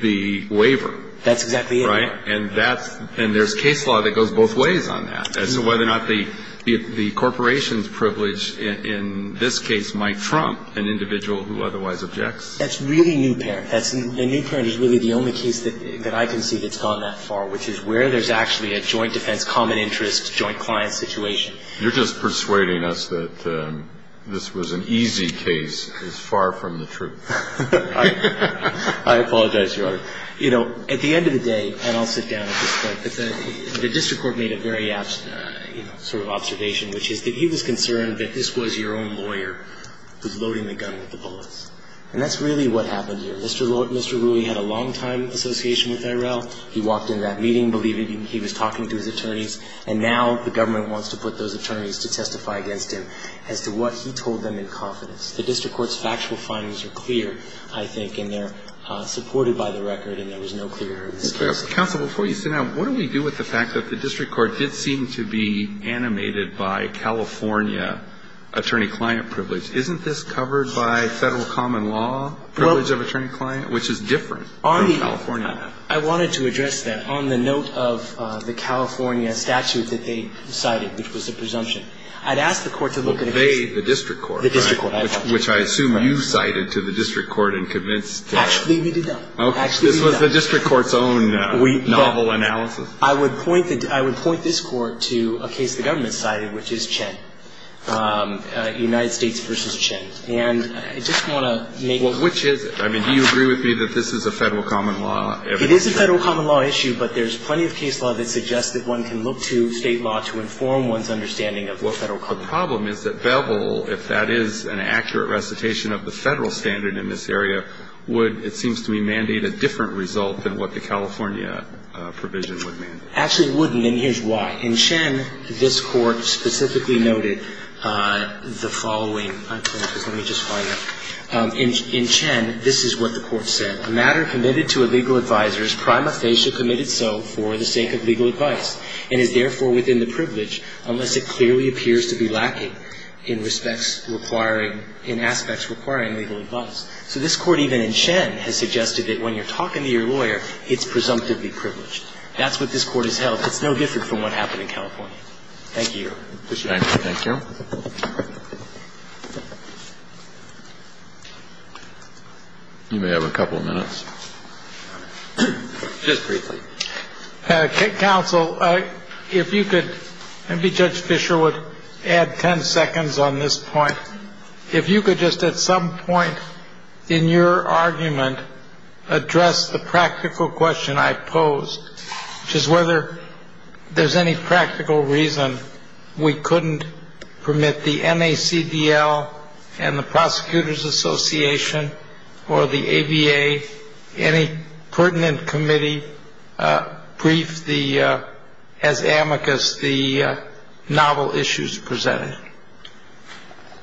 the waiver. That's exactly it. Right? And that's – and there's case law that goes both ways on that, as to whether or not the corporation's privilege in this case might trump an individual who otherwise objects. That's really Newparent. That's – and Newparent is really the only case that I can see that's gone that far, which is where there's actually a joint defense, common interest, joint client situation. You're just persuading us that this was an easy case. It's far from the truth. I apologize, Your Honor. You know, at the end of the day – and I'll sit down at this point. The district court made a very, you know, sort of observation, which is that he was concerned that this was your own lawyer who's loading the gun with the bullets. And that's really what happened here. Mr. Rui had a long-time association with IRL. He walked into that meeting believing he was talking to his attorneys. And now the government wants to put those attorneys to testify against him as to what he told them in confidence. The district court's factual findings are clear, I think, and they're supported by the record and there was no clear evidence. Counsel, before you sit down, what do we do with the fact that the district court did seem to be animated by California attorney-client privilege? Isn't this covered by federal common law privilege of attorney-client, which is different from California? I wanted to address that. On the note of the California statute that they cited, which was a presumption, I'd ask the court to look at a case – They, the district court. The district court. Which I assume you cited to the district court and convinced – Actually, we did not. Actually, we did not. This was the district court's own novel analysis. I would point this court to a case the government cited, which is Chen. United States v. Chen. And I just want to make – Well, which is it? I mean, do you agree with me that this is a federal common law? It is a federal common law issue, but there's plenty of case law that suggests that one can look to state law to inform one's understanding of what federal common law is. The problem is that Bevel, if that is an accurate recitation of the federal standard in this area, would, it seems to me, mandate a different result than what the California provision would mandate. Actually, it wouldn't, and here's why. In Chen, this court specifically noted the following. Let me just find it. In Chen, this is what the court said. A matter committed to a legal advisor is prima facie committed so for the sake of legal advice and is therefore within the privilege unless it clearly appears to be lacking in aspects requiring legal advice. So this court, even in Chen, has suggested that when you're talking to your lawyer, it's presumptively privileged. That's what this court has held. It's no different from what happened in California. Thank you. Thank you. You may have a couple of minutes. Just briefly. Counsel, if you could, maybe Judge Fisher would add 10 seconds on this point. If you could just at some point in your argument address the practical question I posed, which is whether there's any practical reason we couldn't permit the NACDL and the Prosecutors Association or the ABA, any pertinent committee, brief the, as amicus, the novel issues presented.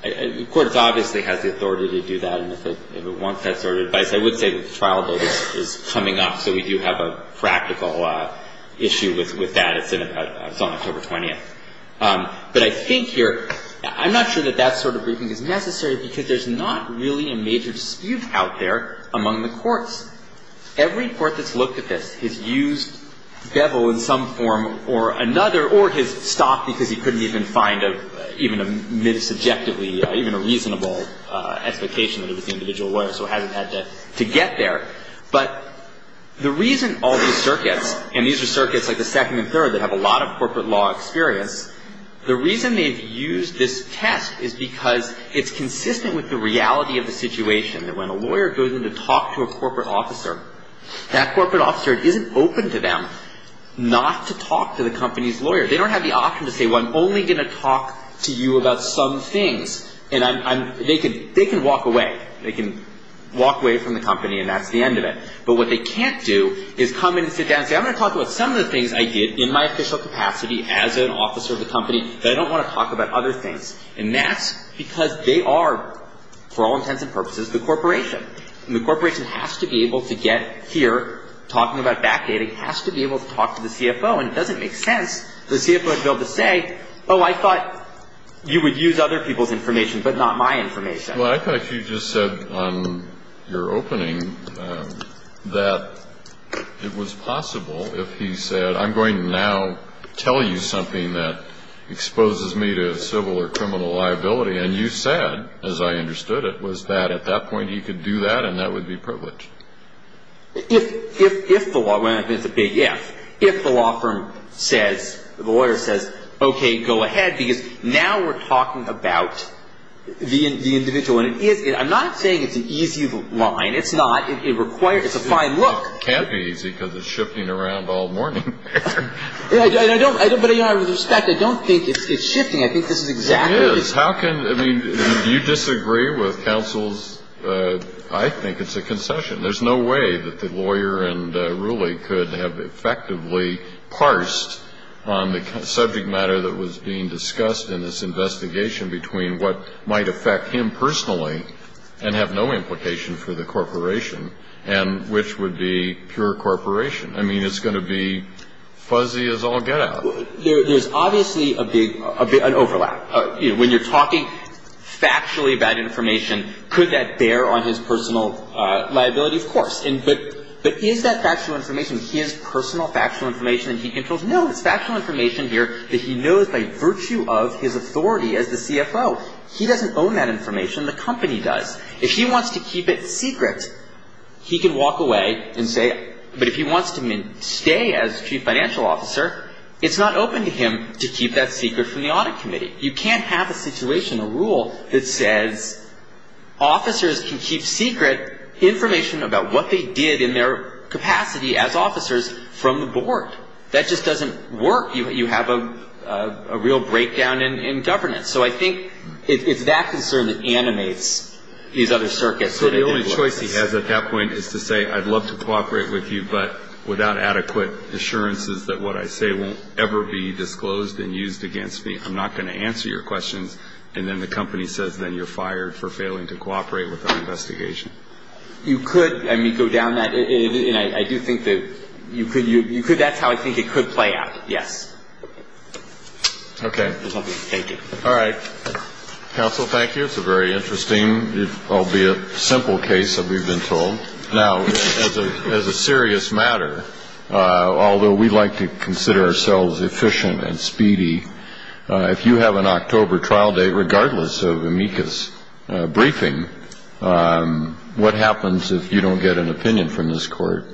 The court obviously has the authority to do that, and if it wants that sort of advice. I would say the trial bill is coming up, so we do have a practical issue with that. It's on October 20th. But I think here, I'm not sure that that sort of briefing is necessary because there's not really a major dispute out there among the courts. Every court that's looked at this has used Bevel in some form or another or has stopped because he couldn't even find a subjectively, even a reasonable explication that it was the individual lawyer, so it hasn't had to get there. But the reason all these circuits, and these are circuits like the second and third that have a lot of corporate law experience, the reason they've used this test is because it's consistent with the reality of the situation, that when a lawyer goes in to talk to a corporate officer, that corporate officer isn't open to them not to talk to the company's lawyer. They don't have the option to say, well, I'm only going to talk to you about some things. And they can walk away. They can walk away from the company, and that's the end of it. But what they can't do is come in and sit down and say, I'm going to talk about some of the things I did in my official capacity as an officer of the company, but I don't want to talk about other things. And that's because they are, for all intents and purposes, the corporation. And the corporation has to be able to get here, talking about backdating, has to be able to talk to the CFO. And it doesn't make sense for the CFO to be able to say, oh, I thought you would use other people's information but not my information. Well, I thought you just said on your opening that it was possible if he said, I'm going to now tell you something that exposes me to civil or criminal liability. And you said, as I understood it, was that at that point he could do that and that would be privileged. If the law firm says, the lawyer says, okay, go ahead, because now we're talking about the individual. And I'm not saying it's an easy line. It's not. It's a fine look. It can't be easy because it's shifting around all morning. But with respect, I don't think it's shifting. I think this is exactly. It is. How can, I mean, do you disagree with counsel's, I think it's a concession. There's no way that the lawyer and ruler could have effectively parsed on the subject matter that was being discussed in this investigation between what might affect him personally and have no implication for the corporation and which would be pure corporation. I mean, it's going to be fuzzy as all get out. There's obviously an overlap. When you're talking factually about information, could that bear on his personal liability? Of course. But is that factual information his personal factual information that he controls? No, it's factual information here that he knows by virtue of his authority as the CFO. He doesn't own that information. The company does. If he wants to keep it secret, he can walk away and say it. But if he wants to stay as chief financial officer, it's not open to him to keep that secret from the audit committee. You can't have a situation, a rule that says officers can keep secret information about what they did in their capacity as officers from the board. That just doesn't work. You have a real breakdown in governance. So I think it's that concern that animates these other circuits. So the only choice he has at that point is to say I'd love to cooperate with you, but without adequate assurances that what I say won't ever be disclosed and used against me. I'm not going to answer your questions. And then the company says then you're fired for failing to cooperate with our investigation. You could, I mean, go down that. And I do think that you could. You could. That's how I think it could play out. Yes. Okay. Thank you. All right. Counsel, thank you. It's a very interesting, albeit simple case that we've been told. Now, as a serious matter, although we like to consider ourselves efficient and speedy, if you have an October trial date, regardless of amicus briefing, what happens if you don't get an opinion from this court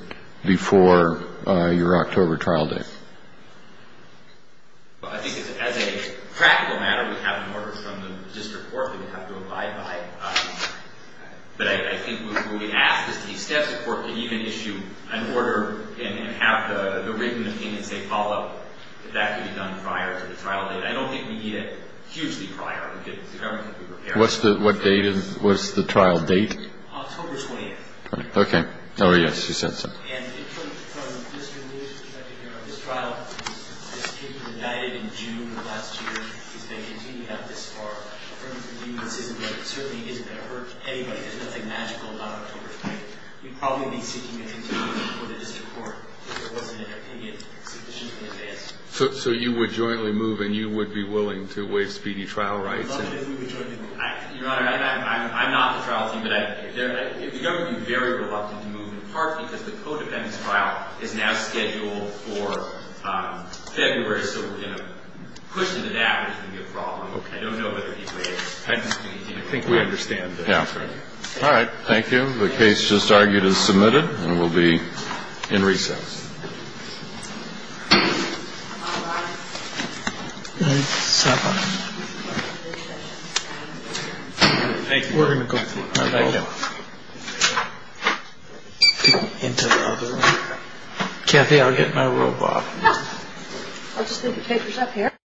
before your October trial date? Well, I think as a practical matter, we have an order from the district court that we have to abide by. But I think what we ask is that the staff support could even issue an order and have the written opinion say follow up. That could be done prior to the trial date. I don't think we need it hugely prior. The government could be prepared. What's the, what date is, what's the trial date? October 28th. Okay. Oh, yes, you said so. And from Mr. Lewis' perspective here on this trial, this case was indicted in June of last year. If they continue to have this far of affirmative convenience, it certainly isn't going to hurt anybody. There's nothing magical about October 28th. We'd probably be seeking an opinion before the district court if there wasn't an opinion sufficiently advanced. So you would jointly move and you would be willing to waive speedy trial rights? Well, yes, we would jointly move. Your Honor, I'm not on the trial team, but the government would be very reluctant to move, in part because the co-defendant's trial is now scheduled for February, so we're going to push it to that. It's going to be a problem. I don't know whether he'd waive it. I think we understand. Yeah. All right. Thank you. The case just argued is submitted and will be in recess. Thank you. Kathy, I'll get my robot. I'll just leave the papers up here.